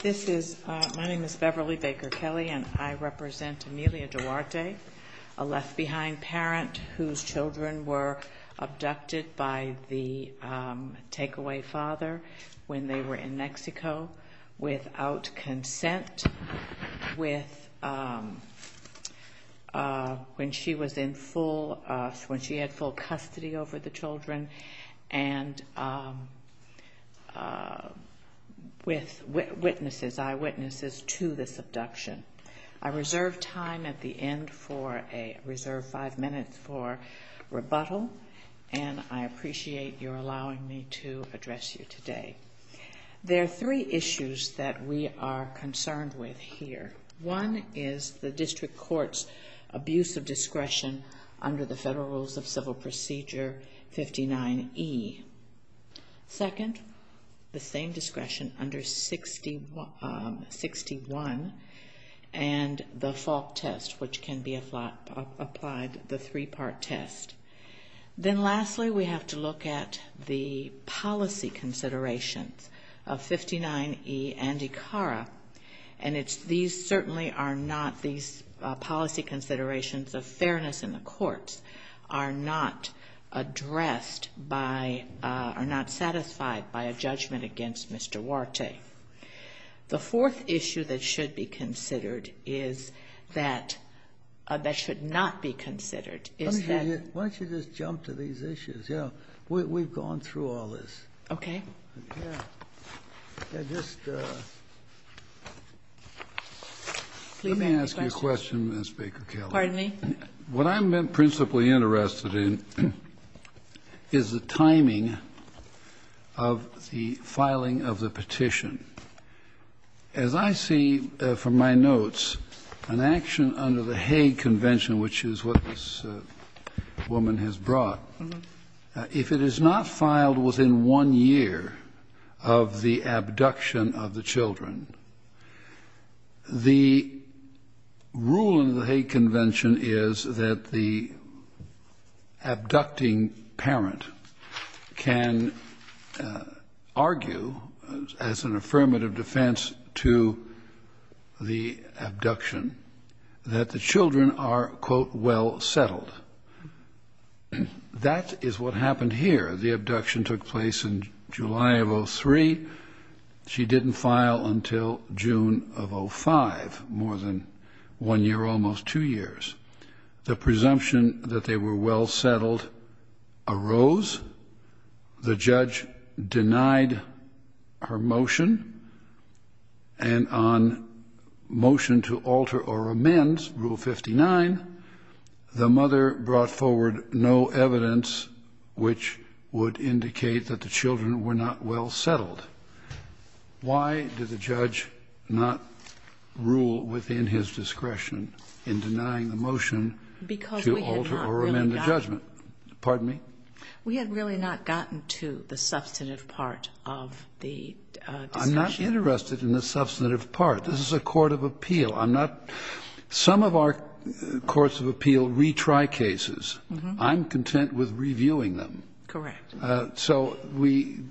This is, my name is Beverly Baker Kelly and I represent Emilia Duarte, a left-behind parent whose children were abducted by the take-away father when they were in Mexico without consent, with, when she was in full, when she had full custody over the children and with witnesses, eyewitnesses to this abduction. I reserve time at the end for a, reserve five minutes for rebuttal and I appreciate your allowing me to address you today. There are three issues that we are concerned with here. One is the district court's abuse of discretion under the Federal Rules of Civil Procedure 59E. Second, the same discretion under 61 and the fault test, which can be applied, the three-part test. Then lastly, we have to look at the policy considerations of 59E and ICARA and it's, these certainly are not, these policy considerations of fairness in the courts are not addressed by, are not satisfied by a judgment against Mr. Duarte. The fourth issue that should be considered is that, that should not be considered is that Scalia Why don't you just jump to these issues? You know, we've gone through all this. Okay. Let me ask you a question, Ms. Baker-Kelley. Pardon me? What I'm principally interested in is the timing of the filing of the petition. As I see from my notes, an action under the Hague Convention, which is what this woman has brought, if it is not filed within one year of the abduction of the children, the rule in the Hague Convention is that the abducting parent can argue, as an affirmative defense to the abduction, that the children are, quote, well settled. That is what happened here. The abduction took place in July of 03. She didn't file until June of 05, more than one year, almost two years. The presumption that they were well settled arose. The judge denied her motion, and on motion to alter or amend, Rule 59, the mother brought forward no evidence which would indicate that the children were not well settled. Why did the judge not rule within his discretion in denying the motion to alter or amend the judgment? Because we had not really gotten to the substantive part of the discussion. I'm not interested in the substantive part. This is a court of appeal. I'm not – some of our courts of appeal retry cases. I'm content with reviewing them. Correct. So we –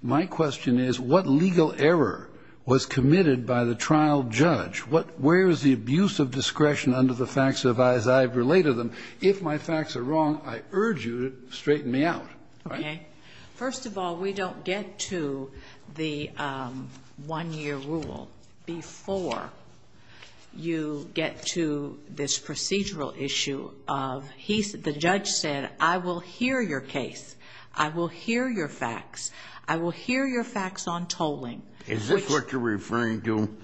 my question is, what legal error was committed by the trial judge? What – where is the abuse of discretion under the facts as I have related them? If my facts are wrong, I urge you to straighten me out. Okay. First of all, we don't get to the one-year rule before you get to the one-year rule. We get to this procedural issue of he – the judge said, I will hear your case. I will hear your facts. I will hear your facts on tolling. Is this what you're referring to?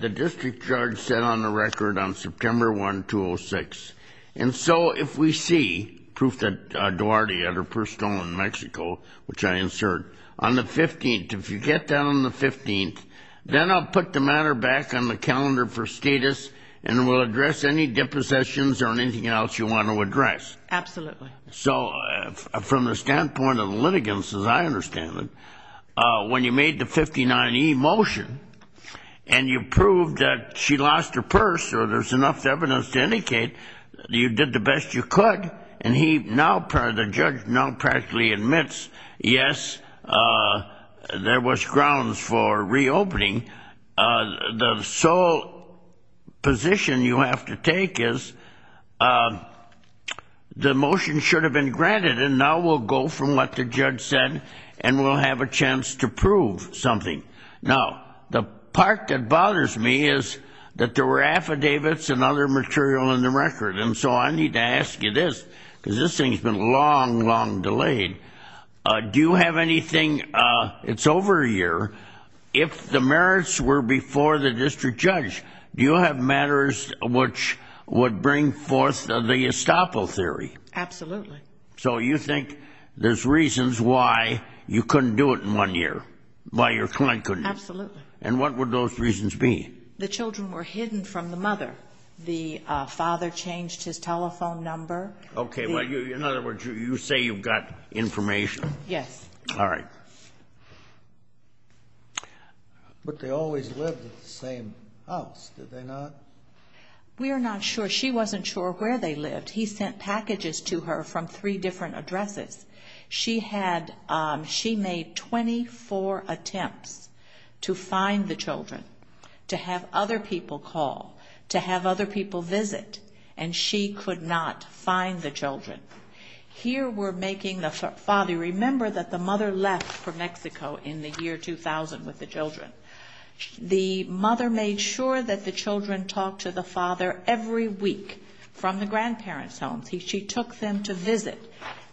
The district judge said on the record on September 1, 2006, and so if we see proof that Duarte had her purse stolen in Mexico, which I insert, on the 15th, if you get that on the 15th, then I'll put the matter back on the calendar for status, and we'll address any depositions or anything else you want to address. Absolutely. So from the standpoint of the litigants, as I understand it, when you made the 59E motion, and you proved that she lost her purse, or there's enough evidence to indicate that you did the best you could, and he now – the judge now practically admits, yes, there was grounds for reopening, the sole position you have to take is the motion should have been granted, and now we'll go from what the judge said, and we'll have a chance to prove something. Now, the part that bothers me is that there were affidavits and other material in the record, and so I need to ask you this, because this thing's been long, long delayed. Do you have anything – it's over a year. If the merits were before the district judge, do you have matters which would bring forth the estoppel theory? Absolutely. So you think there's reasons why you couldn't do it in one year, why your client couldn't do it? Absolutely. And what would those reasons be? The children were hidden from the mother. The father changed his telephone number. Okay. Well, in other words, you say you've got information. Yes. All right. But they always lived at the same house, did they not? We are not sure. She wasn't sure where they lived. He sent packages to her from three different addresses. She had – she made 24 attempts to find the children, to have other people call, to have other people visit, and she could not find the children. Here we're making the father – remember that the mother left for Mexico in the year 2000 with the children. The mother made sure that the children talked to the father every week from the grandparents' homes. She took them to visit.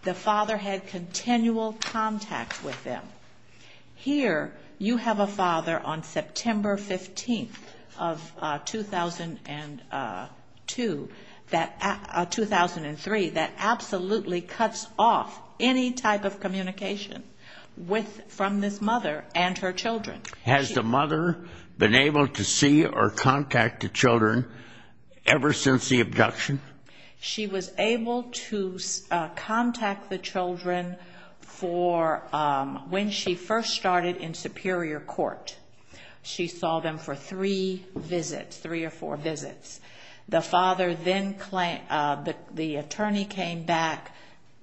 The father had continual contact with them. Here you have a father on September 15th of 2002 – 2003 that absolutely cuts off any type of communication with – from this mother and her children. Has the mother been able to see or contact the children ever since the abduction? She was able to contact the children for – when she first started in superior court. She saw them for three visits, three or four visits. The father then – the attorney came back,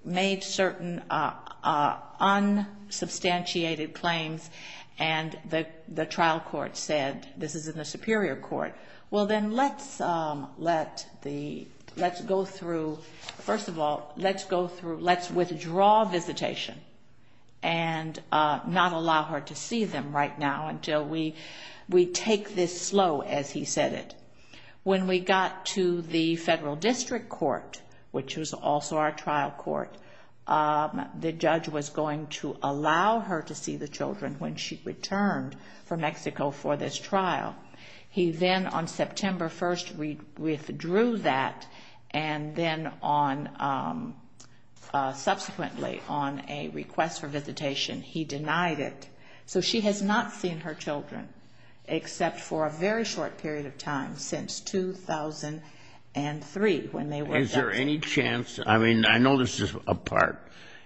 made certain unsubstantiated claims, and the trial court said, this is in the superior court. Well, then let's let the – let's go through – first of all, let's go through – let's withdraw visitation and not allow her to see them right now until we take this slow, as he said it. When we got to the federal district court, which was also our trial court, the judge was going to allow her to see the children when she returned from Mexico for this trial. He then on September 1st withdrew that, and then on – subsequently on a request for visitation, he denied it. So she has not seen her children except for a very short period of time, since 2003 when they were abducted. Is there any chance – I mean, I know this is a part,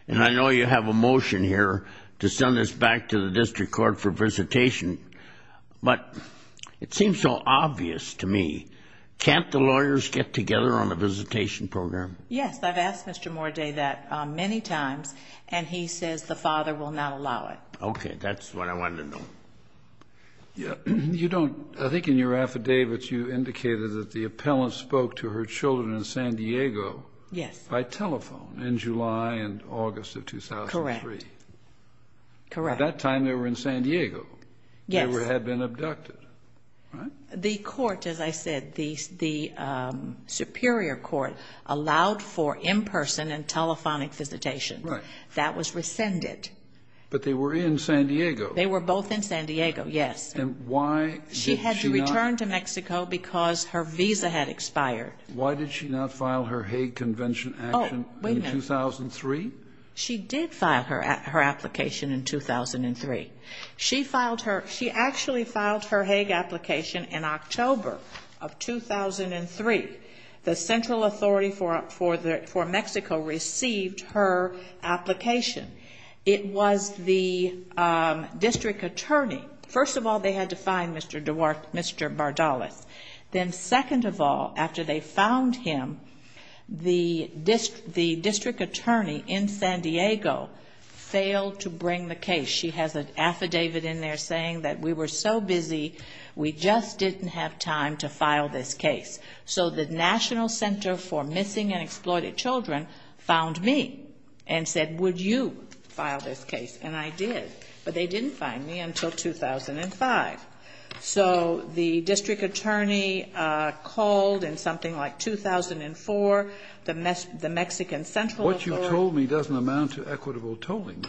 and I know you have a motion here to send this back to the district court for visitation, but it seems so obvious to me. Can't the lawyers get together on a visitation program? Yes. I've asked Mr. Morday that many times, and he says the father will not allow it. Okay. That's what I wanted to know. You don't – I think in your affidavit you indicated that the appellant spoke to her children in San Diego. Yes. By telephone in July and August of 2003. Correct. At that time they were in San Diego. Yes. They had been abducted. The court, as I said, the superior court, allowed for in-person and telephonic visitation. Right. That was rescinded. But they were in San Diego. They were both in San Diego, yes. And why did she not – She hadn't returned to Mexico because her visa had expired. Why did she not file her Hague Convention action in 2003? She did file her application in 2003. She filed her – she actually filed her Hague application in October of 2003. The Central Authority for Mexico received her application. It was the district attorney. First of all, they had to find Mr. Bardalas. Then second of all, after they found him, the district attorney in San Diego failed to bring the case. She has an affidavit in there saying that we were so busy, we just didn't have time to file this case. So the National Center for Missing and Exploited Children found me and said, would you file this case? And I did. But they didn't find me until 2005. So the district attorney called in something like 2004. The Mexican Central Authority – What you've told me doesn't amount to equitable tolling.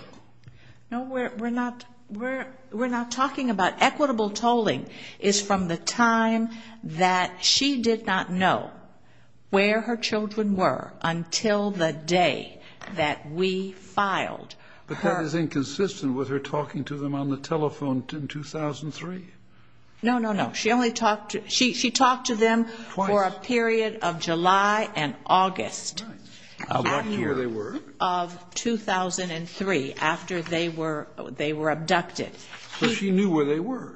No, we're not – we're not talking about – equitable tolling is from the time that she did not know where her children were until the day that we filed her – But that is inconsistent with her talking to them on the telephone in 2003. No, no, no. She only talked – she talked to them for a period of July and August. Right. Of 2003, after they were abducted. So she knew where they were.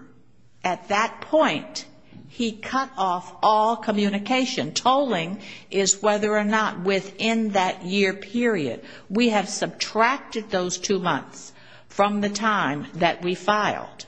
At that point, he cut off all communication. Tolling is whether or not within that year period. We have subtracted those two months from the time that we filed.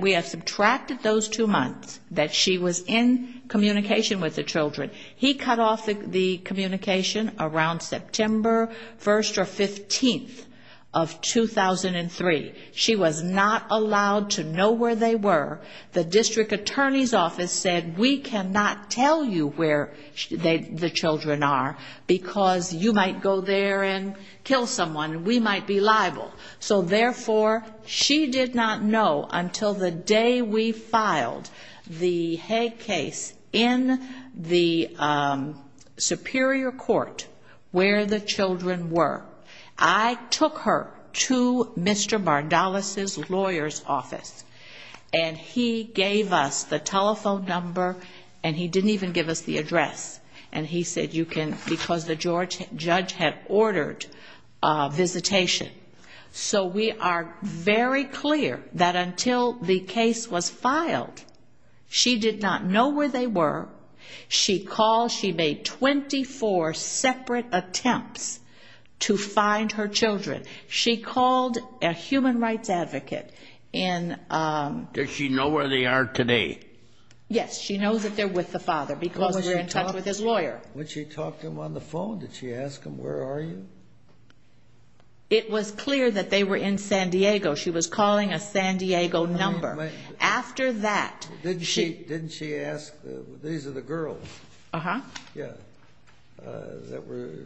We have subtracted those two months that she was in communication with the children. He cut off the communication around September 1st or 15th of 2003. She was not allowed to know where they were. The district attorney's office said, We cannot tell you where the children are because you might go there and kill someone and we might be liable. So, therefore, she did not know until the day we filed the Hague case in the Superior Court where the children were. I took her to Mr. Bardalis' lawyer's office. And he gave us the telephone number and he didn't even give us the address. And he said, You can, because the judge had ordered a visitation. So we are very clear that until the case was filed, she did not know where they were. She called, she made 24 separate attempts to find her children. She called a human rights advocate. Did she know where they are today? Yes, she knows that they're with the father because they're in touch with his lawyer. When she talked to him on the phone, did she ask him, Where are you? It was clear that they were in San Diego. She was calling a San Diego number. Didn't she ask, These are the girls that were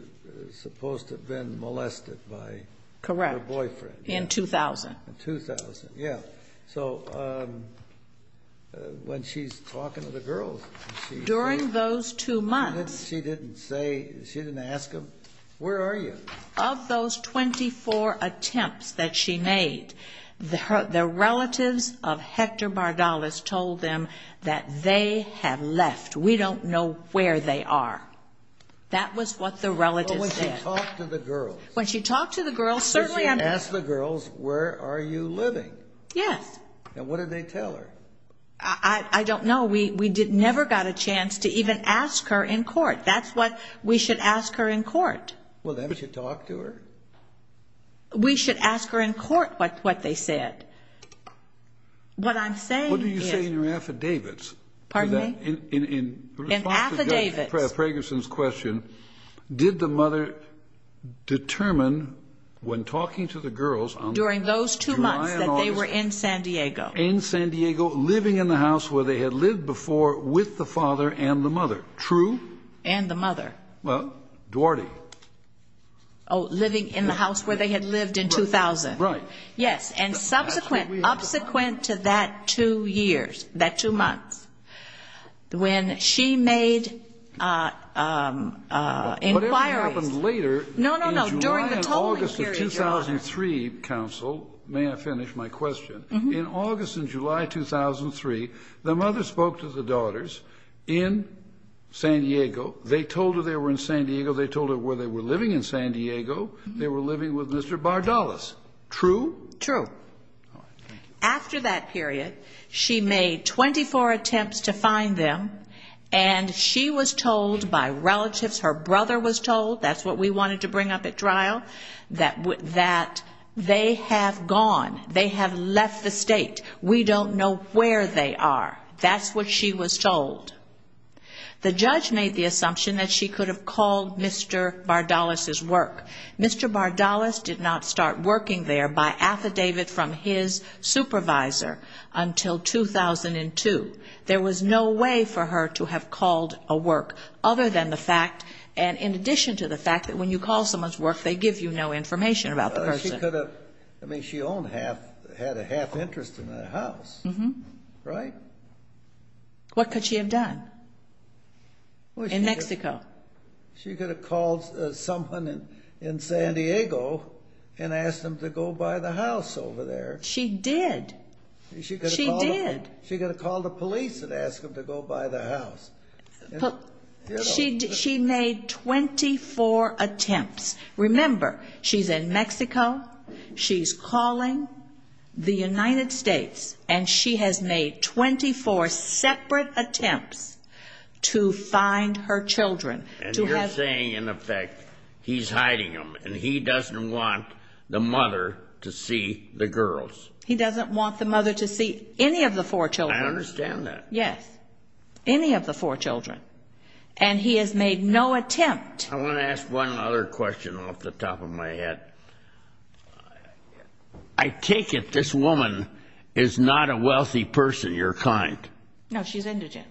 supposed to have been molested by her boyfriend? Correct, in 2000. In 2000, yeah. So, when she's talking to the girls, she didn't ask them, Where are you? Of those 24 attempts that she made, the relatives of Hector Bardalis told them that they have left. We don't know where they are. That was what the relatives said. But when she talked to the girls? When she talked to the girls, certainly on the phone. Did she ask the girls, Where are you living? Yes. And what did they tell her? I don't know. We never got a chance to even ask her in court. That's what we should ask her in court. Well, then, should you talk to her? We should ask her in court what they said. What I'm saying is... What do you say in your affidavits? Pardon me? In the response to Judge Fragerson's question, Did the mother determine, when talking to the girls... During those two months that they were in San Diego. In San Diego, living in the house where they had lived before with the father and the mother. True? And the mother. Well, Duarte. Oh, living in the house where they had lived in 2000. Right. Yes. And subsequent to that two years, that two months, when she made inquiries... Whatever happened later... No, no, no. During the tolling period, Your Honor. In July and August of 2003, Counsel, may I finish my question? In August and July 2003, the mother spoke to the daughters in San Diego. They told her they were in San Diego. They told her where they were living in San Diego. They were living with Mr. Bardalis. True? True. After that period, she made 24 attempts to find them. And she was told by relatives, her brother was told. That's what we wanted to bring up at trial. That they have gone. They have left the state. We don't know where they are. That's what she was told. The judge made the assumption that she could have called Mr. Bardalis' work. Mr. Bardalis did not start working there by affidavit from his supervisor until 2002. There was no way for her to have called a work other than the fact, and in addition to the fact, that when you call someone's work, they give you no information about the person. She could have. I mean, she owned half, had a half interest in that house. Right? What could she have done in Mexico? She could have called someone in San Diego and asked them to go buy the house over there. She did. She could have called the police and asked them to go buy the house. She made 24 attempts. Remember, she's in Mexico. She's calling the United States. And she has made 24 separate attempts to find her children. And you're saying, in effect, he's hiding them, and he doesn't want the mother to see the girls. He doesn't want the mother to see any of the four children. I understand that. Yes. Any of the four children. And he has made no attempt. I want to ask one other question off the top of my head. I take it this woman is not a wealthy person of your kind. No, she's indigent.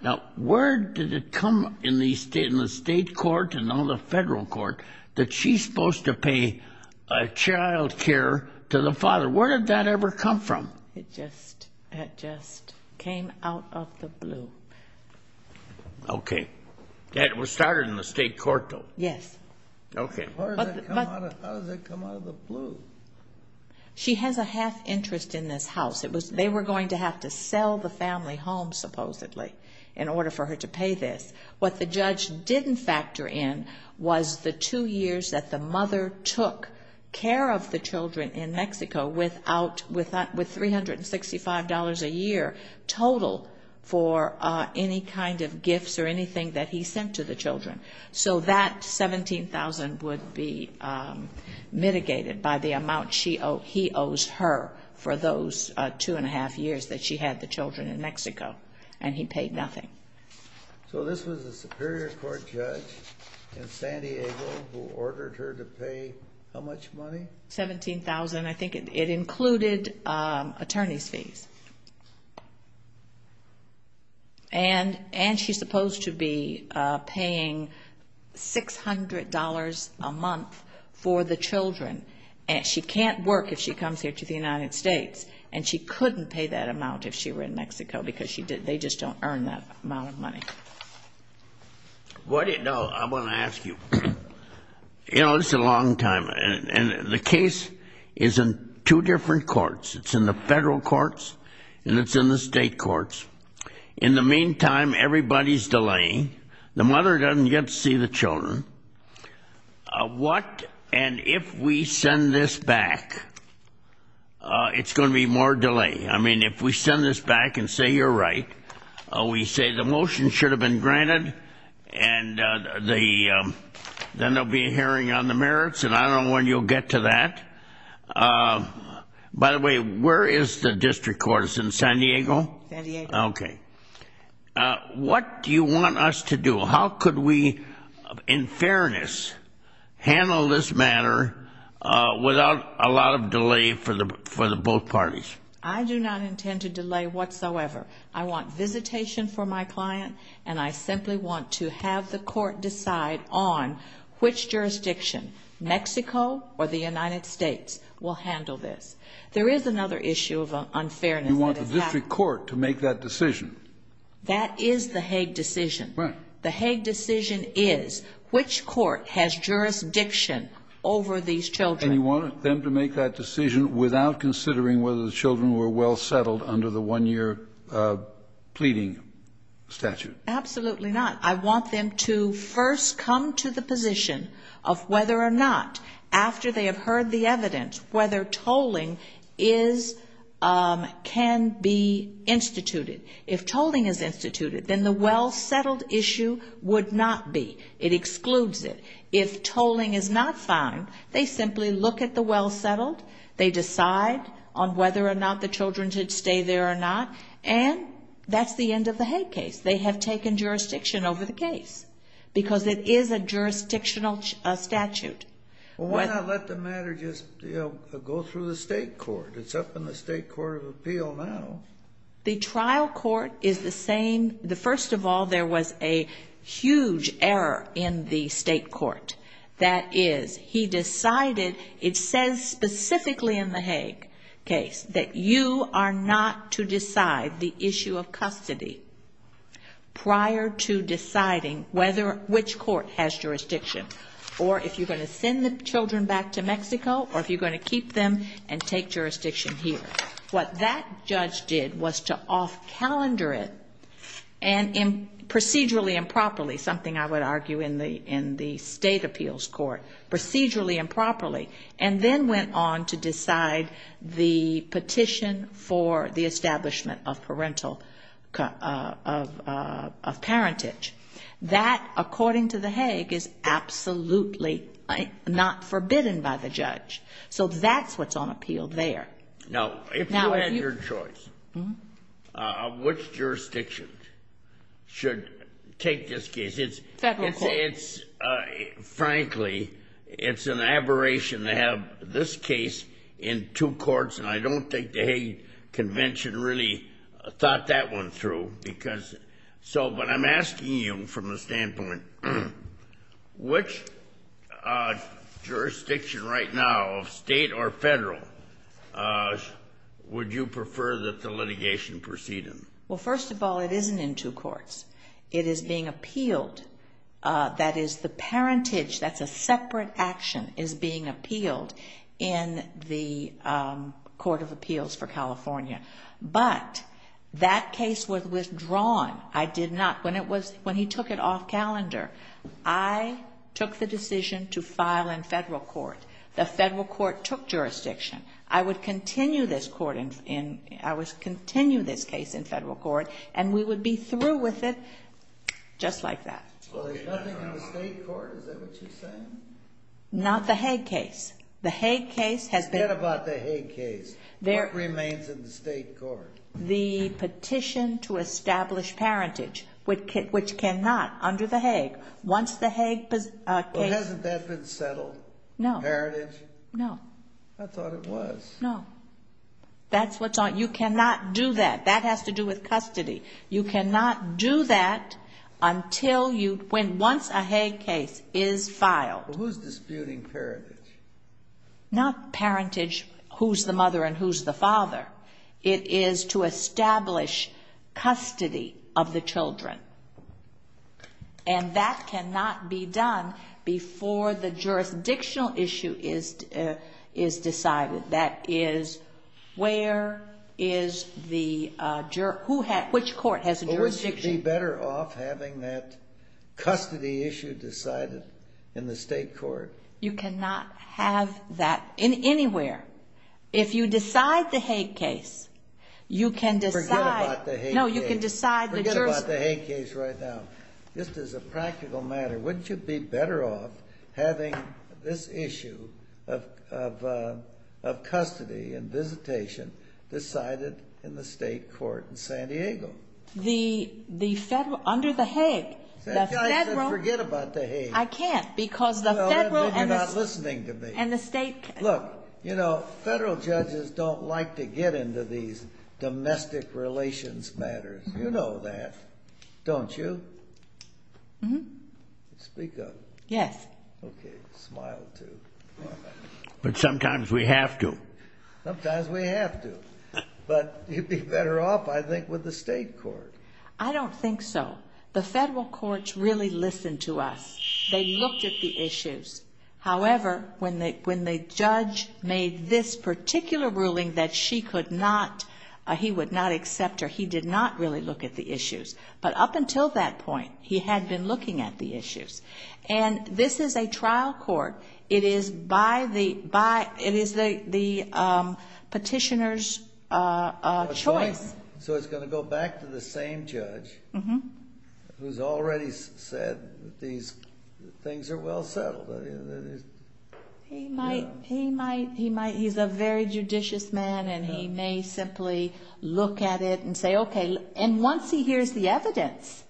Now, where did it come in the state court and all the federal court that she's supposed to pay child care to the father? Where did that ever come from? It just came out of the blue. Okay. That was started in the state court, though. Yes. Okay. How does that come out of the blue? She has a half interest in this house. They were going to have to sell the family home, supposedly, in order for her to pay this. What the judge didn't factor in was the two years that the mother took care of the children in Mexico with $365 a year total for any kind of gifts or anything that he sent to the children. So that $17,000 would be mitigated by the amount he owes her for those two and a half years that she had the children in Mexico, and he paid nothing. So this was a Superior Court judge in San Diego who ordered her to pay how much money? $17,000. I think it included attorney's fees. And she's supposed to be paying $600 a month for the children. She can't work if she comes here to the United States, and she couldn't pay that amount if she were in Mexico because they just don't earn that amount of money. No, I want to ask you, you know, this is a long time, and the case is in two different courts. It's in the federal courts and it's in the state courts. In the meantime, everybody's delaying. The mother doesn't get to see the children. What and if we send this back, it's going to be more delay. I mean, if we send this back and say you're right, we say the motion should have been granted, and then there will be a hearing on the merits, and I don't know when you'll get to that. By the way, where is the district court? It's in San Diego? San Diego. Okay. What do you want us to do? How could we, in fairness, handle this matter without a lot of delay for the both parties? I do not intend to delay whatsoever. I want visitation for my client, and I simply want to have the court decide on which jurisdiction, Mexico or the United States, will handle this. There is another issue of unfairness that has happened. You want the district court to make that decision. That is the Hague decision. Right. The Hague decision is which court has jurisdiction over these children. And you want them to make that decision without considering whether the children were well settled under the one-year pleading statute. Absolutely not. I want them to first come to the position of whether or not, after they have heard the evidence, whether tolling can be instituted. If tolling is instituted, then the well settled issue would not be. It excludes it. If tolling is not found, they simply look at the well settled, they decide on whether or not the children should stay there or not, and that's the end of the Hague case. They have taken jurisdiction over the case because it is a jurisdictional statute. Well, why not let the matter just go through the state court? It's up in the state court of appeal now. The trial court is the same. First of all, there was a huge error in the state court. That is, he decided, it says specifically in the Hague case, that you are not to decide the issue of custody prior to deciding whether which court has jurisdiction or if you're going to send the children back to Mexico or if you're going to keep them and take jurisdiction here. What that judge did was to off-calendar it and procedurally and properly, something I would argue in the state appeals court, procedurally and properly, and then went on to decide the petition for the establishment of parental, of parentage. That, according to the Hague, is absolutely not forbidden by the judge. So that's what's on appeal there. Now, if you had your choice, which jurisdiction should take this case? Federal court. It's, frankly, it's an aberration to have this case in two courts, and I don't think the Hague Convention really thought that one through. Because so, but I'm asking you from a standpoint, which jurisdiction right now, state or federal, would you prefer that the litigation proceed in? Well, first of all, it isn't in two courts. It is being appealed. That is, the parentage, that's a separate action, is being appealed in the Court of Appeals for California. But that case was withdrawn. I did not. When it was, when he took it off calendar, I took the decision to file in federal court. The federal court took jurisdiction. I would continue this court in, I would continue this case in federal court, and we would be through with it just like that. Well, there's nothing in the state court? Is that what you're saying? Not the Hague case. The Hague case has been. Forget about the Hague case. What remains in the state court? The petition to establish parentage, which cannot under the Hague. Once the Hague case. Well, hasn't that been settled? No. Parentage? No. I thought it was. No. That's what's on. You cannot do that. That has to do with custody. You cannot do that until you, when, once a Hague case is filed. Well, who's disputing parentage? Not parentage, who's the mother and who's the father. It is to establish custody of the children, and that cannot be done before the jurisdictional issue is decided. That is, where is the, which court has jurisdiction? Well, we should be better off having that custody issue decided in the state court. You cannot have that anywhere. If you decide the Hague case, you can decide. Forget about the Hague case. No, you can decide the jurisdiction. Forget about the Hague case right now. Just as a practical matter, wouldn't you be better off having this issue of custody and visitation decided in the state court in San Diego? The federal, under the Hague. I said forget about the Hague. I can't because the federal and the state. You're not listening to me. And the state. Look, you know, federal judges don't like to get into these domestic relations matters. You know that, don't you? Speak up. Yes. Okay, smile too. But sometimes we have to. Sometimes we have to. But you'd be better off, I think, with the state court. I don't think so. The federal courts really listened to us. They looked at the issues. However, when the judge made this particular ruling that she could not, he would not accept her, he did not really look at the issues. But up until that point, he had been looking at the issues. And this is a trial court. It is the petitioner's choice. So it's going to go back to the same judge who's already said these things are well settled. He might. He's a very judicious man, and he may simply look at it and say, okay. And once he hears the evidence,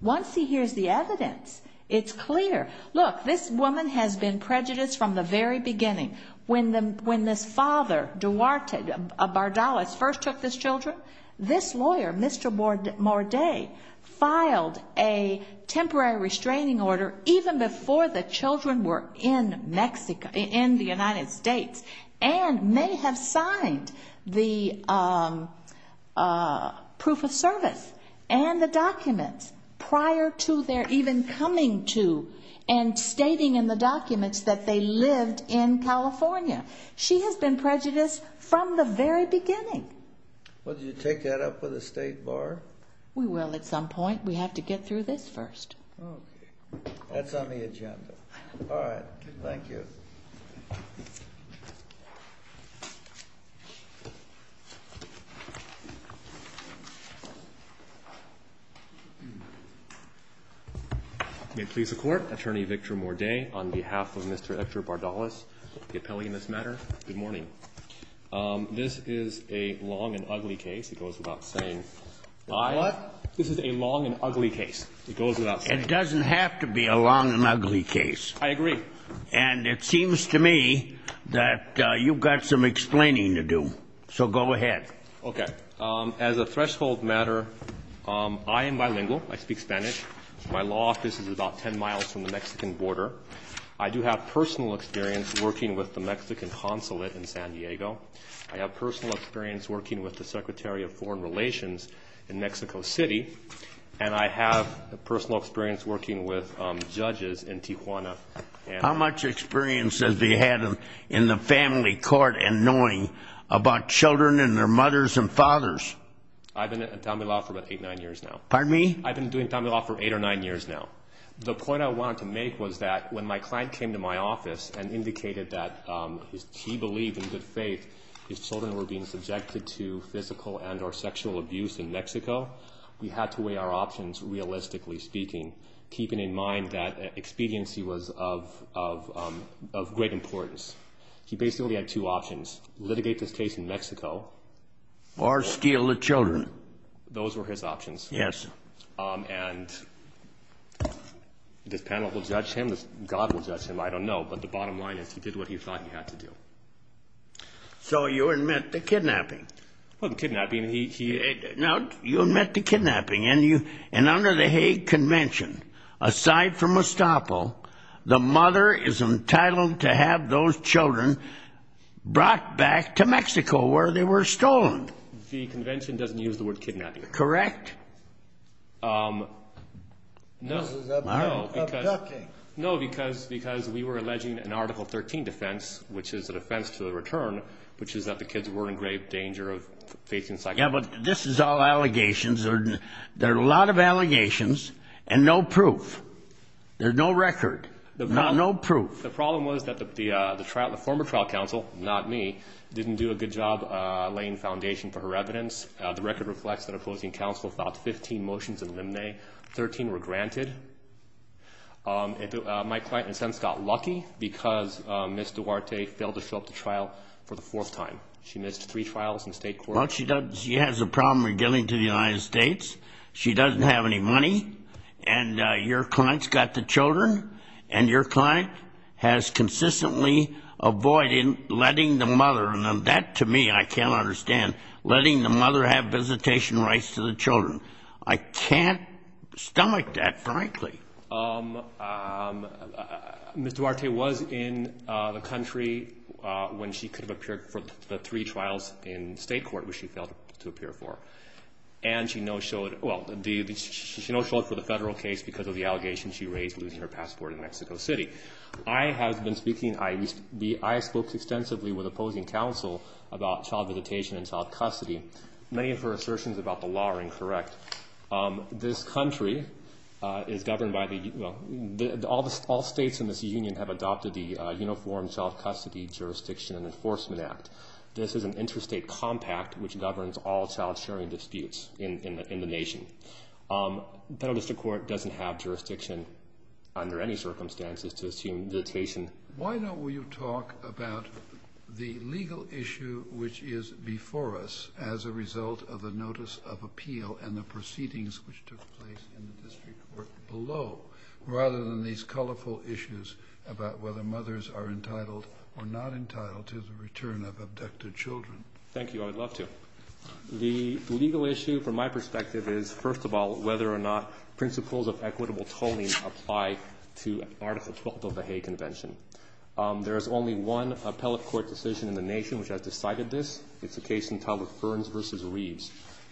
once he hears the evidence, it's clear. Look, this woman has been prejudiced from the very beginning. When this father, Duarte Bardales, first took this children, this lawyer, Mr. Morde, filed a temporary restraining order even before the children were in the United States and may have signed the proof of service and the documents prior to their even coming to and stating in the documents that they lived in California. She has been prejudiced from the very beginning. Would you take that up with the State Bar? We will at some point. We have to get through this first. Okay. That's on the agenda. All right. Thank you. May it please the Court. Attorney Victor Morde on behalf of Mr. Edgar Bardales, the appellee in this matter. Good morning. This is a long and ugly case. It goes without saying. What? This is a long and ugly case. It goes without saying. It doesn't have to be a long and ugly case. I agree. And it seems to me that you've got some explaining to do. So go ahead. Okay. As a threshold matter, I am bilingual. I speak Spanish. My law office is about 10 miles from the Mexican border. I do have personal experience working with the Mexican consulate in San Diego. I have personal experience working with the Secretary of Foreign Relations in Mexico City. And I have personal experience working with judges in Tijuana. How much experience has he had in the family court in knowing about children and their mothers and fathers? I've been in family law for about eight, nine years now. Pardon me? I've been doing family law for eight or nine years now. The point I wanted to make was that when my client came to my office and indicated that he believed in good faith his children were being subjected to physical and or sexual abuse in Mexico, we had to weigh our options realistically speaking, keeping in mind that expediency was of great importance. He basically had two options, litigate this case in Mexico. Or steal the children. Those were his options. Yes. And this panel will judge him. God will judge him. I don't know. But the bottom line is he did what he thought he had to do. So you admit to kidnapping? Well, kidnapping, he... Now, you admit to kidnapping and under the Hague Convention, aside from estoppel, the mother is entitled to have those children brought back to Mexico where they were stolen. The convention doesn't use the word kidnapping. Correct? No. This is abducting. No, because we were alleging an Article 13 defense, which is a defense to the return, which is that the kids were in grave danger of facing... Yeah, but this is all allegations. There are a lot of allegations and no proof. There's no record. No proof. The problem was that the former trial counsel, not me, didn't do a good job laying foundation for her evidence. The record reflects that opposing counsel filed 15 motions in limine. 13 were granted. My client, in a sense, got lucky because Ms. Duarte failed to show up to trial for the fourth time. She missed three trials in state court. She has a problem with getting to the United States. She doesn't have any money. And your client's got the children, and your client has consistently avoided letting the mother, and that, to me, I can't understand, letting the mother have visitation rights to the children. I can't stomach that, frankly. Ms. Duarte was in the country when she could have appeared for the three trials in state court, which she failed to appear for. And she no-showed, well, she no-showed for the federal case because of the allegation she raised, losing her passport in Mexico City. I have been speaking, I spoke extensively with opposing counsel about child visitation and child custody. Many of her assertions about the law are incorrect. This country is governed by the, well, all the states in this union have adopted the Uniform Child Custody Jurisdiction and Enforcement Act. This is an interstate compact which governs all child-sharing disputes in the nation. Federal district court doesn't have jurisdiction under any circumstances to assume visitation. Why don't we talk about the legal issue which is before us as a result of the notice of appeal and the proceedings which took place in the district court below, rather than these colorful issues about whether mothers are entitled or not entitled to the return of abducted children. Thank you. I would love to. The legal issue, from my perspective, is, first of all, whether or not principles of equitable tolling apply to Article 12 of the Hague Convention. There is only one appellate court decision in the nation which has decided this. It's the case entitled Ferns v. Reeves.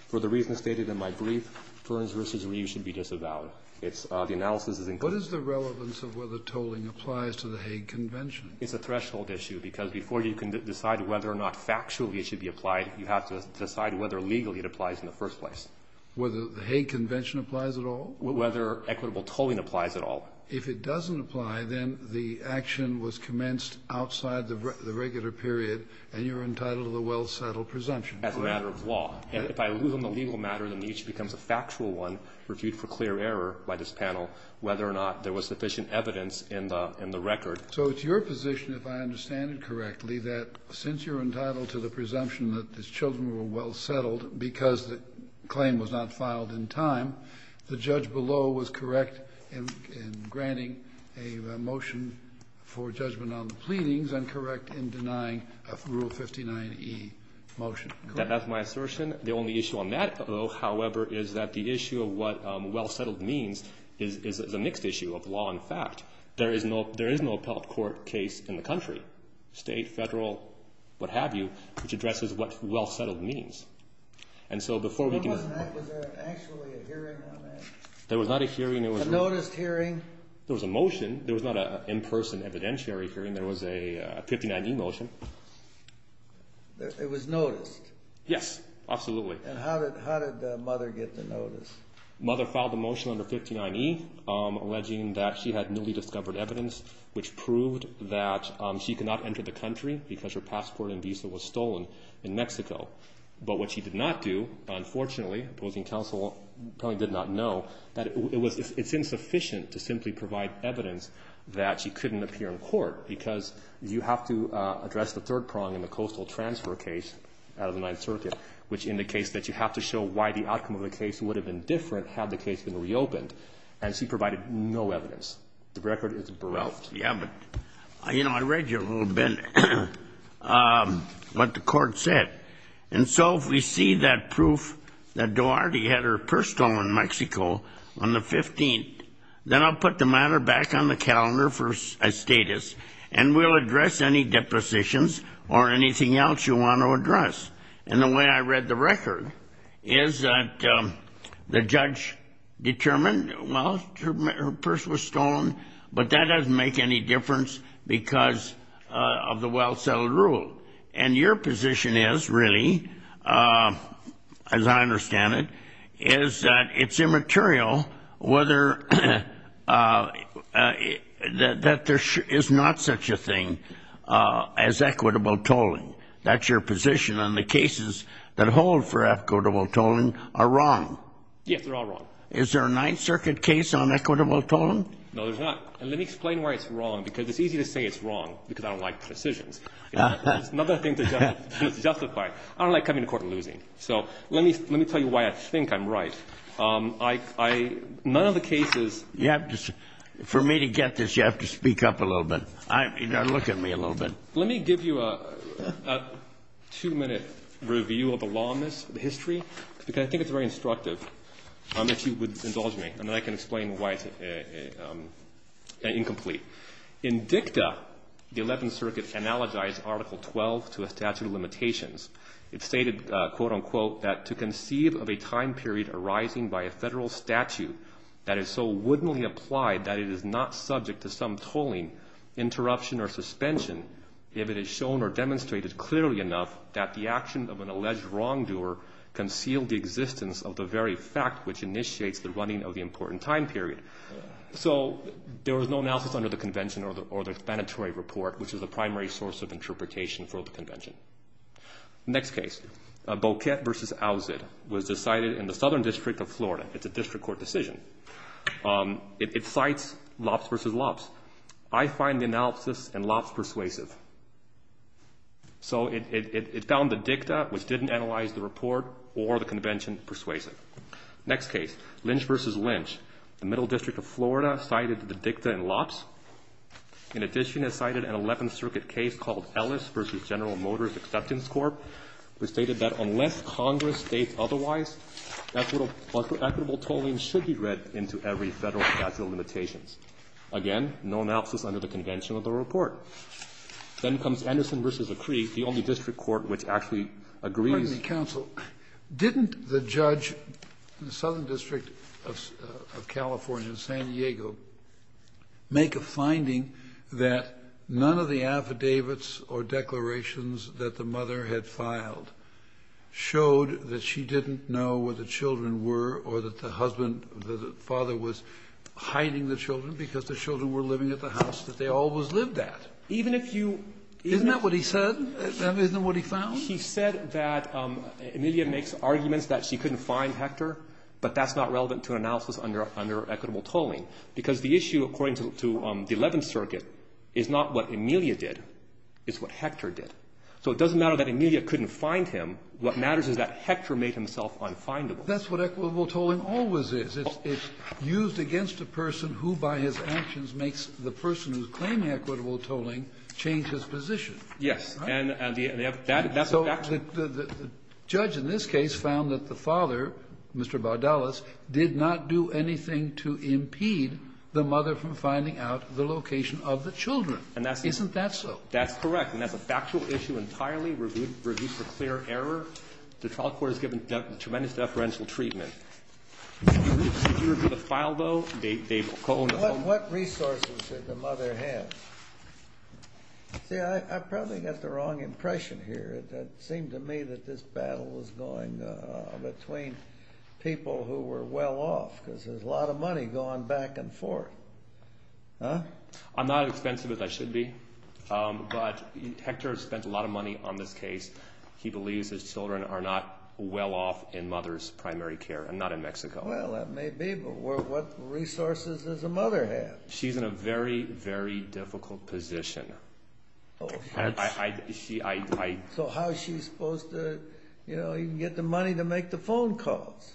For the reasons stated in my brief, Ferns v. Reeves should be disavowed. The analysis is included. What is the relevance of whether tolling applies to the Hague Convention? It's a threshold issue because before you can decide whether or not factually it should be applied, you have to decide whether legally it applies in the first place. Whether the Hague Convention applies at all? Whether equitable tolling applies at all. If it doesn't apply, then the action was commenced outside the regular period, and you're entitled to the well-settled presumption. As a matter of law. And if I lose on the legal matter, then each becomes a factual one reviewed for clear error by this panel whether or not there was sufficient evidence in the record. So it's your position, if I understand it correctly, that since you're entitled to the presumption that these children were well settled because the claim was not filed in time, the judge below was correct in granting a motion for judgment on the pleadings and correct in denying Rule 59E motion. That's my assertion. The only issue on that, though, however, is that the issue of what well-settled means is a mixed issue of law and fact. There is no appellate court case in the country, state, federal, what have you, which addresses what well-settled means. Was there actually a hearing on that? There was not a hearing. A noticed hearing? There was a motion. There was not an in-person evidentiary hearing. There was a 59E motion. It was noticed? Yes, absolutely. And how did Mother get the notice? Mother filed a motion under 59E alleging that she had newly discovered evidence which proved that she could not enter the country because her passport and visa was stolen in Mexico. But what she did not do, unfortunately, opposing counsel probably did not know, that it's insufficient to simply provide evidence that she couldn't appear in court because you have to address the third prong in the coastal transfer case out of the Ninth Circuit, which indicates that you have to show why the outcome of the case would have been different had the case been reopened. And she provided no evidence. The record is bereft. I read you a little bit what the court said. And so if we see that proof that Duarte had her purse stolen in Mexico on the 15th, then I'll put the matter back on the calendar for a status, and we'll address any depositions or anything else you want to address. And the way I read the record is that the judge determined, well, her purse was stolen, but that doesn't make any difference because of the well-settled rule. And your position is, really, as I understand it, is that it's immaterial that there is not such a thing as equitable tolling. That's your position on the cases that hold for equitable tolling are wrong. Yes, they're all wrong. Is there a Ninth Circuit case on equitable tolling? No, there's not. And let me explain why it's wrong, because it's easy to say it's wrong, because I don't like decisions. It's another thing to justify. I don't like coming to court and losing. So let me tell you why I think I'm right. None of the cases you have to see. For me to get this, you have to speak up a little bit. You've got to look at me a little bit. Let me give you a two-minute review of the law on this, the history, because I think it's very instructive. If you would indulge me, and then I can explain why it's incomplete. In dicta, the Eleventh Circuit analogized Article 12 to a statute of limitations. It stated, quote, unquote, that to conceive of a time period arising by a federal statute that is so wouldn'tly applied that it is not subject to some tolling, interruption, or suspension, if it is shown or demonstrated clearly enough that the action of an alleged wrongdoer concealed the existence of the very fact which initiates the running of the important time period. So there was no analysis under the convention or the explanatory report, which is the primary source of interpretation for the convention. Next case. Boquete v. Owsit was decided in the Southern District of Florida. It's a district court decision. It cites Loppes v. Loppes. I find the analysis in Loppes persuasive. So it found the dicta, which didn't analyze the report, or the convention persuasive. Next case. Lynch v. Lynch. The Middle District of Florida cited the dicta in Loppes. In addition, it cited an Eleventh Circuit case called Ellis v. General Motors Acceptance Corp. It stated that unless Congress states otherwise, equitable tolling should be read into every federal statute of limitations. Again, no analysis under the convention of the report. Then comes Anderson v. Acree, the only district court which actually agrees. Kennedy, counsel, didn't the judge in the Southern District of California, San Diego, make a finding that none of the affidavits or declarations that the mother had filed showed that she didn't know where the children were or that the husband or the father was hiding the children because the children were living at the house that they always lived at? Isn't that what he said? Isn't that what he found? He said that Amelia makes arguments that she couldn't find Hector, but that's not relevant to an analysis under equitable tolling, because the issue according to the Eleventh Circuit is not what Amelia did. It's what Hector did. So it doesn't matter that Amelia couldn't find him. What matters is that Hector made himself unfindable. That's what equitable tolling always is. It's used against a person who, by his actions, makes the person who's claiming equitable tolling change his position. Yes. And that's a factual issue. So the judge in this case found that the father, Mr. Bardalis, did not do anything to impede the mother from finding out the location of the children. Isn't that so? That's correct. And that's a factual issue entirely reviewed for clear error. The trial court has given tremendous deferential treatment. Did you review the file, though? What resources did the mother have? See, I probably got the wrong impression here. It seemed to me that this battle was going between people who were well off, because there's a lot of money going back and forth. I'm not as expensive as I should be, but Hector has spent a lot of money on this case. He believes his children are not well off in mother's primary care, and not in Mexico. Well, that may be, but what resources does the mother have? She's in a very, very difficult position. So how is she supposed to get the money to make the phone calls?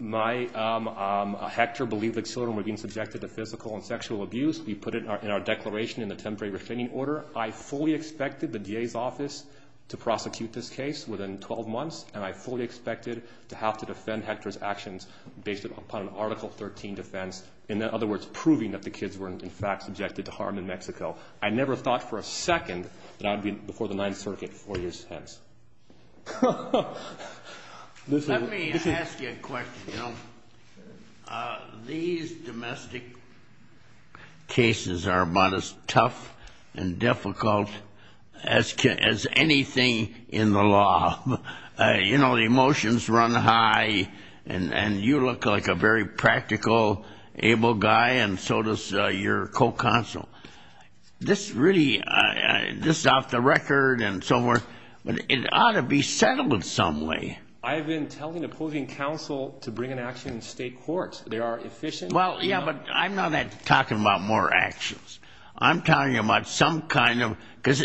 Hector believed the children were being subjected to physical and sexual abuse. We put it in our declaration in the temporary restraining order. I fully expected the DA's office to prosecute this case within 12 months, and I fully expected to have to defend Hector's actions based upon an Article 13 defense, in other words, proving that the kids were, in fact, subjected to harm in Mexico. I never thought for a second that I would be before the Ninth Circuit 40 years hence. Let me ask you a question. These domestic cases are about as tough and difficult as anything in the law. You know, the emotions run high, and you look like a very practical, able guy, and so does your co-counsel. This really, this is off the record and so forth, but it ought to be settled in some way. I have been telling opposing counsel to bring an action in state court. They are efficient. Well, yeah, but I'm not talking about more actions. I'm talking about some kind of, because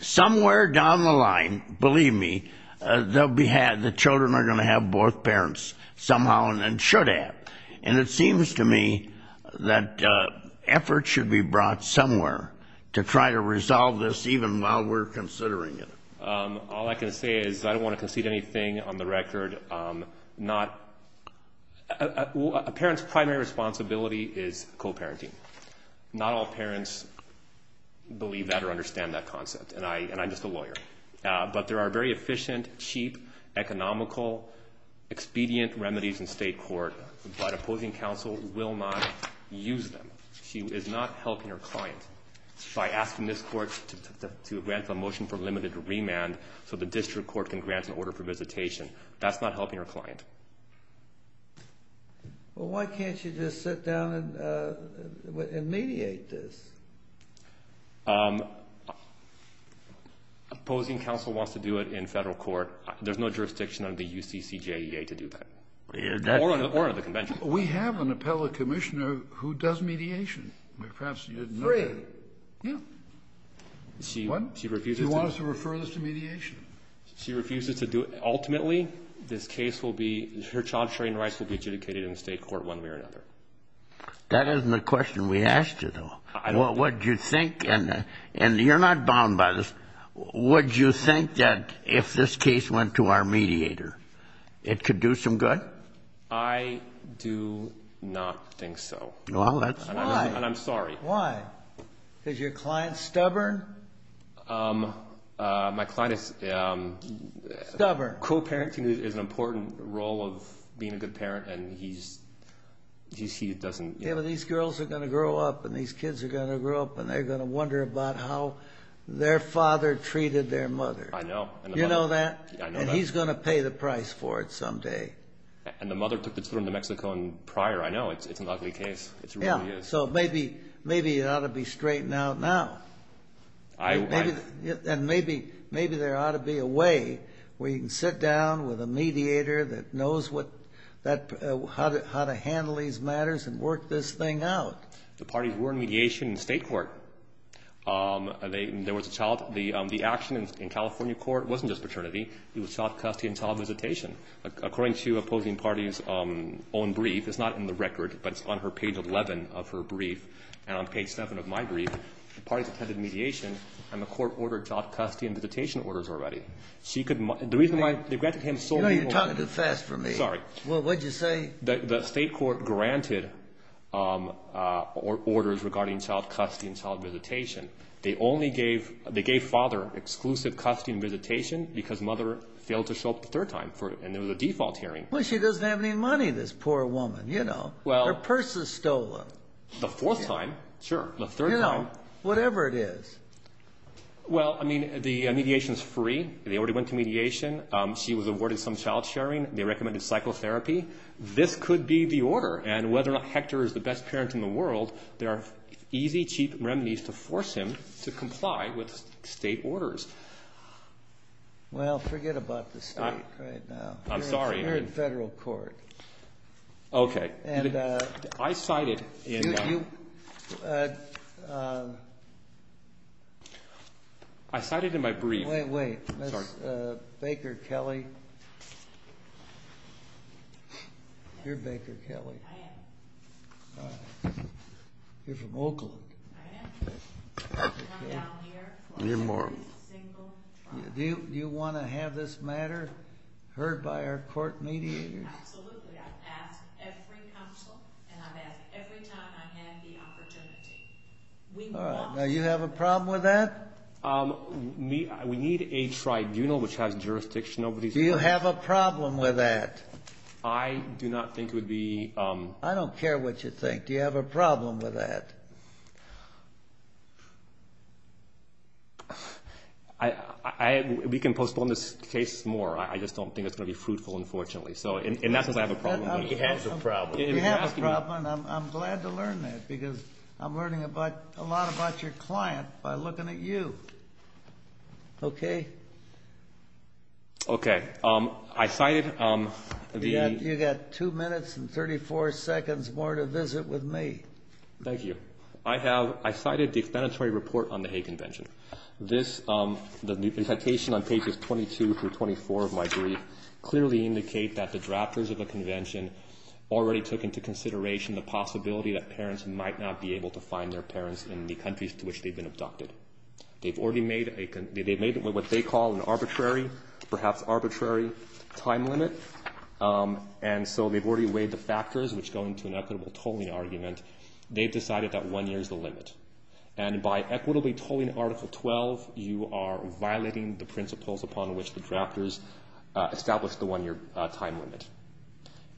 somewhere down the line, believe me, the children are going to have both parents somehow and should have. And it seems to me that effort should be brought somewhere to try to resolve this even while we're considering it. All I can say is I don't want to concede anything on the record. A parent's primary responsibility is co-parenting. Not all parents believe that or understand that concept, and I'm just a lawyer. But there are very efficient, cheap, economical, expedient remedies in state court, but opposing counsel will not use them. She is not helping her client by asking this court to grant a motion for limited remand so the district court can grant an order for visitation. That's not helping her client. Well, why can't you just sit down and mediate this? Opposing counsel wants to do it in federal court. There's no jurisdiction under the UCCJEA to do that or under the convention. We have an appellate commissioner who does mediation. Perhaps you didn't know that. Yeah. What? She refuses to do it. Do you want us to refer this to mediation? She refuses to do it. Ultimately, this case will be, her child training rights will be adjudicated in the state court one way or another. That isn't the question we asked you, though. What would you think, and you're not bound by this, would you think that if this case went to our mediator, it could do some good? I do not think so. Well, that's why. And I'm sorry. Why? Because your client's stubborn? My client is... Stubborn. Co-parenting is an important role of being a good parent, and he doesn't... Yeah, but these girls are going to grow up, and these kids are going to grow up, and they're going to wonder about how their father treated their mother. I know. You know that? I know that. And he's going to pay the price for it someday. And the mother took the children to Mexico prior. I know. It's an ugly case. It really is. Yeah, so maybe it ought to be straightened out now. I... And maybe there ought to be a way where you can sit down with a mediator that knows how to handle these matters and work this thing out. The parties were in mediation in state court. There was a child... The action in California court wasn't just paternity. It was child custody and child visitation. According to opposing parties' own brief, it's not in the record, but it's on page 11 of her brief, and on page 7 of my brief, the parties attended mediation, and the court ordered child custody and visitation orders already. She could... The reason why... You're talking too fast for me. Sorry. What did you say? The state court granted orders regarding child custody and child visitation. They only gave... They gave father exclusive custody and visitation because mother failed to show up the third time, and there was a default hearing. Well, she doesn't have any money, this poor woman, you know. Well... Her purse is stolen. The fourth time. Sure. The third time. You know, whatever it is. Well, I mean, the mediation is free. They already went to mediation. She was awarded some child sharing. They recommended psychotherapy. This could be the order, and whether or not Hector is the best parent in the world, there are easy, cheap remedies to force him to comply with state orders. Well, forget about the state right now. I'm sorry. You're in federal court. Okay. And... I cited in... You... I cited in my brief... Wait, wait. I'm sorry. Baker Kelly. You're Baker Kelly. I am. All right. You're from Oakland. I am. I've come down here for every single trial. Do you want to have this matter heard by our court mediators? Absolutely. I've asked every counsel, and I've asked every time I had the opportunity. All right. Now, you have a problem with that? We need a tribunal which has jurisdiction over these cases. Do you have a problem with that? I do not think it would be... I don't care what you think. Do you have a problem with that? We can postpone this case more. I just don't think it's going to be fruitful, unfortunately. And not because I have a problem. He has a problem. You have a problem, and I'm glad to learn that, because I'm learning a lot about your client by looking at you. Okay? Okay. I cited the... You've got two minutes and 34 seconds more to visit with me. Thank you. I cited the explanatory report on the Hague Convention. The citation on pages 22 through 24 of my brief clearly indicate that the drafters of the convention already took into consideration the possibility that parents might not be able to find their parents in the countries to which they've been abducted. They've already made what they call an arbitrary, perhaps arbitrary, time limit, and so they've already weighed the factors which go into an equitable tolling argument. They've decided that one year is the limit. And by equitably tolling Article 12, you are violating the principles upon which the drafters established the one-year time limit.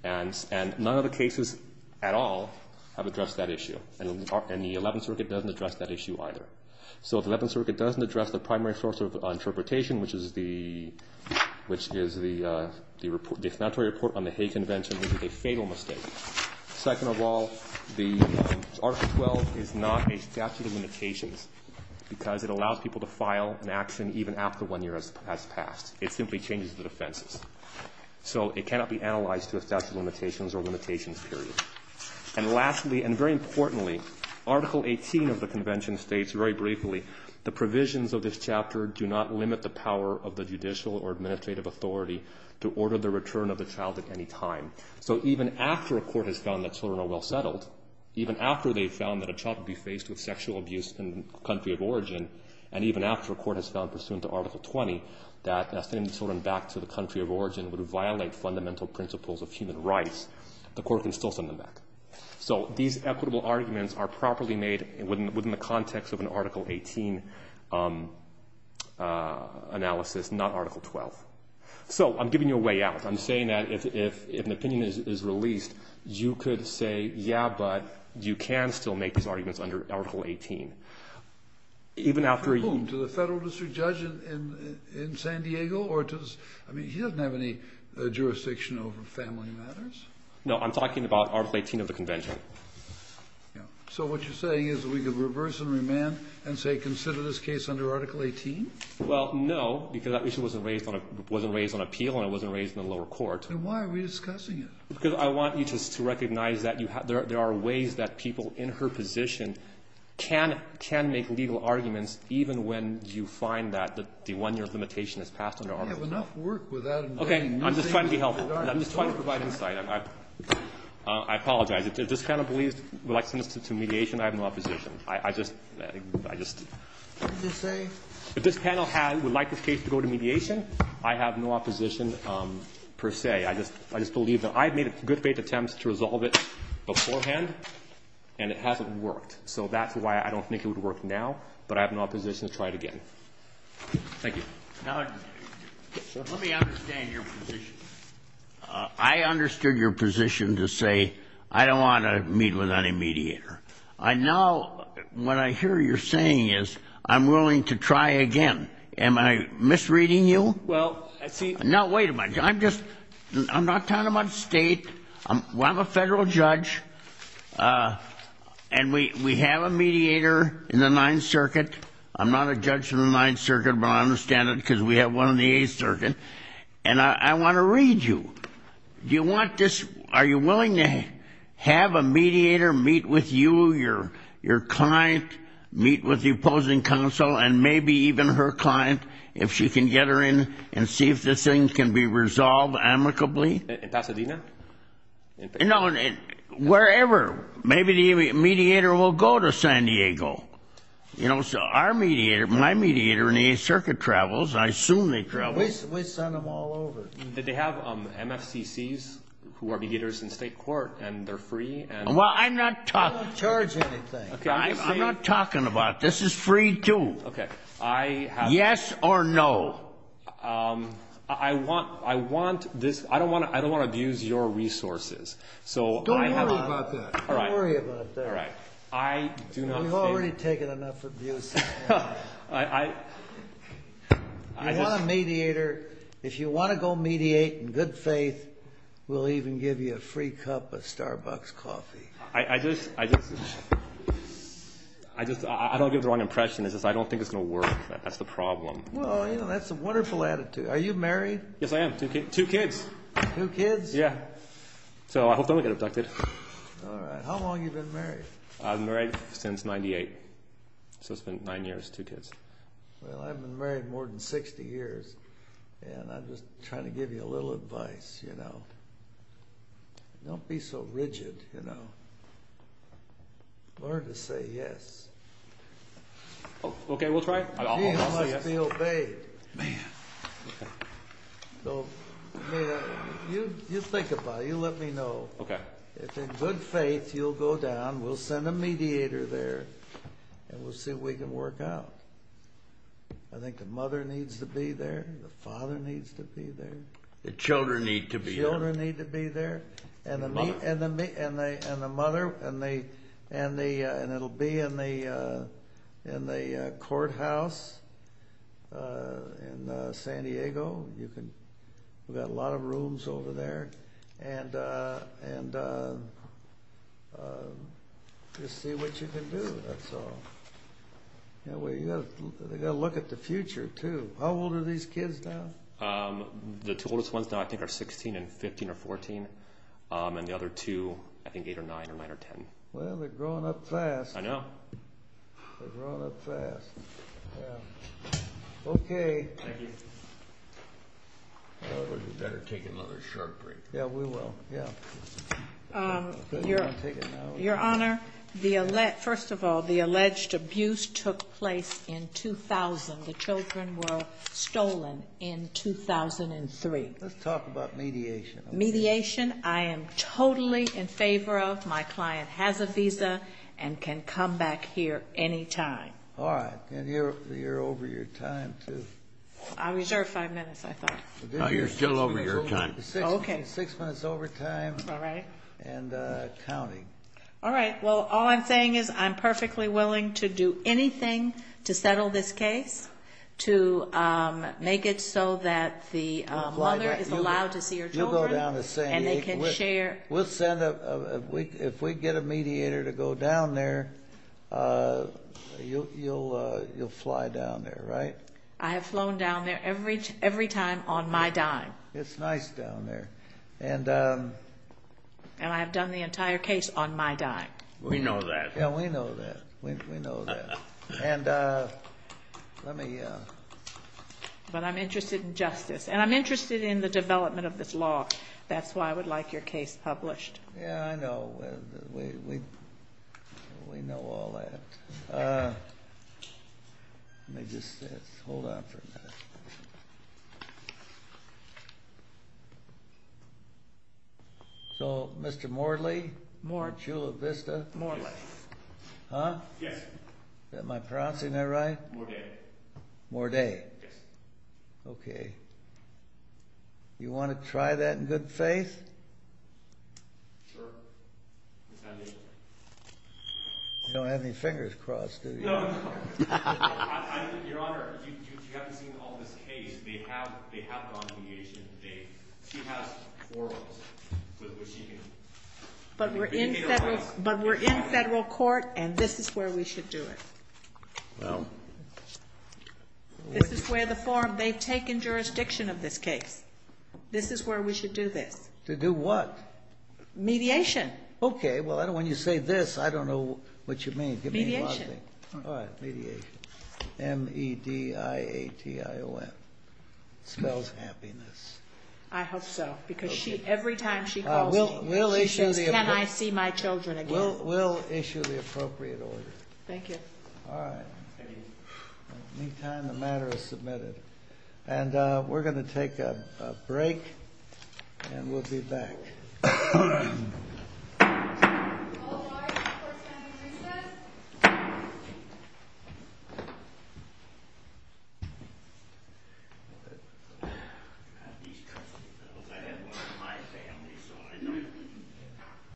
And none of the cases at all have addressed that issue, and the Eleventh Circuit doesn't address that issue either. So if the Eleventh Circuit doesn't address the primary source of interpretation, which is the explanatory report on the Hague Convention, it is a fatal mistake. Second of all, Article 12 is not a statute of limitations because it allows people to file an action even after one year has passed. It simply changes the defenses. So it cannot be analyzed to a statute of limitations or limitations period. And lastly, and very importantly, Article 18 of the convention states, very briefly, the provisions of this chapter do not limit the power of the judicial or administrative authority to order the return of the child at any time. So even after a court has found that children are well settled, even after they've found that a child could be faced with sexual abuse in the country of origin, and even after a court has found, pursuant to Article 20, that sending children back to the country of origin would violate fundamental principles of human rights, the court can still send them back. So these equitable arguments are properly made within the context of an Article 18 analysis, not Article 12. So I'm giving you a way out. I'm saying that if an opinion is released, you could say, yeah, but you can still make these arguments under Article 18. Even after a year. And to the federal district judge in San Diego? I mean, he doesn't have any jurisdiction over family matters. No, I'm talking about Article 18 of the convention. So what you're saying is that we could reverse and remand and say, consider this case under Article 18? Well, no, because that issue wasn't raised on appeal and it wasn't raised in the lower court. Then why are we discussing it? Because I want you to recognize that there are ways that people in her position can make legal arguments even when you find that the one-year limitation is passed under Article 18. We have enough work without involving new things that aren't important. Okay. I'm just trying to be helpful. I'm just trying to provide insight. I apologize. If this panel would like to send this to mediation, I have no opposition. I just, I just. What did you say? If this panel would like this case to go to mediation, I have no opposition per se. I just believe that I've made good faith attempts to resolve it beforehand and it hasn't worked. So that's why I don't think it would work now, but I have no opposition to try it again. Thank you. Now, let me understand your position. I understood your position to say I don't want to meet with any mediator. Now what I hear you saying is I'm willing to try again. Am I misreading you? Well, see. No, wait a minute. I'm just, I'm not talking about the state. I'm a federal judge, and we have a mediator in the Ninth Circuit. I'm not a judge in the Ninth Circuit, but I understand it because we have one in the Eighth Circuit. And I want to read you. Do you want this, are you willing to have a mediator meet with you, your client, meet with the opposing counsel, and maybe even her client, if she can get her in and see if this thing can be resolved amicably? In Pasadena? No, wherever. Maybe the mediator will go to San Diego. You know, so our mediator, my mediator in the Eighth Circuit travels. I assume they travel. We send them all over. Did they have MFCCs, who are mediators in state court, and they're free? Well, I'm not talking. I don't charge anything. I'm not talking about. This is free, too. Yes or no? I want this. I don't want to abuse your resources. Don't worry about that. All right. Don't worry about that. All right. We've already taken enough abuse. I just. If you want a mediator, if you want to go mediate in good faith, we'll even give you a free cup of Starbucks coffee. I just. I don't give the wrong impression. It's just I don't think it's going to work. That's the problem. Well, you know, that's a wonderful attitude. Are you married? Yes, I am. Two kids. Two kids? Yeah. So I hope I don't get abducted. All right. How long have you been married? I've been married since 98. So it's been nine years, two kids. Well, I've been married more than 60 years, and I'm just trying to give you a little advice, you know. Don't be so rigid, you know. Learn to say yes. Okay, we'll try it. You must be obeyed. Man. So you think about it. You let me know. Okay. If in good faith you'll go down, we'll send a mediator there, and we'll see if we can work out. I think the mother needs to be there. The father needs to be there. The children need to be there. The children need to be there. And the mother. And it will be in the courthouse in San Diego. We've got a lot of rooms over there. And just see what you can do, that's all. You've got to look at the future, too. How old are these kids now? The two oldest ones now I think are 16 and 15 or 14. And the other two, I think eight or nine or nine or ten. Well, they're growing up fast. I know. They're growing up fast. Yeah. Okay. Thank you. We better take another short break. Yeah, we will. Yeah. Your Honor, first of all, the alleged abuse took place in 2000. The children were stolen in 2003. Let's talk about mediation. Mediation I am totally in favor of. My client has a visa and can come back here any time. All right. And you're over your time, too. I reserve five minutes, I thought. No, you're still over your time. Okay. Six minutes overtime. All right. And counting. All right. Well, all I'm saying is I'm perfectly willing to do anything to settle this case, to make it so that the mother is allowed to see her children and they can share. We'll send a ‑‑ if we get a mediator to go down there, you'll fly down there, right? I have flown down there every time on my dime. It's nice down there. And I have done the entire case on my dime. We know that. Yeah, we know that. We know that. And let me ‑‑ But I'm interested in justice. And I'm interested in the development of this law. That's why I would like your case published. Yeah, I know. We know all that. Let me just hold on for a minute. So, Mr. Morley? Morley. Chula Vista? Morley. Huh? Yes. Is that my pronouncing that right? Morday. Morday. Yes. Okay. You want to try that in good faith? Sure. If I may. You don't have any fingers crossed, do you? No, no. Your Honor, you haven't seen all this case. They have gone to mediation today. She has four of them. But we're in federal court, and this is where we should do it. Well. This is where the forum ‑‑ they've taken jurisdiction of this case. This is where we should do this. To do what? Mediation. Okay. Well, when you say this, I don't know what you mean. Give me a lot of things. Mediation. All right. Mediation. M-E-D-I-A-T-I-O-N. It spells happiness. I hope so. Because every time she calls me, she says, can I see my children again? We'll issue the appropriate order. Thank you. All right. Thank you. In the meantime, the matter is submitted. And we're going to take a break, and we'll be back. All rise for family recess.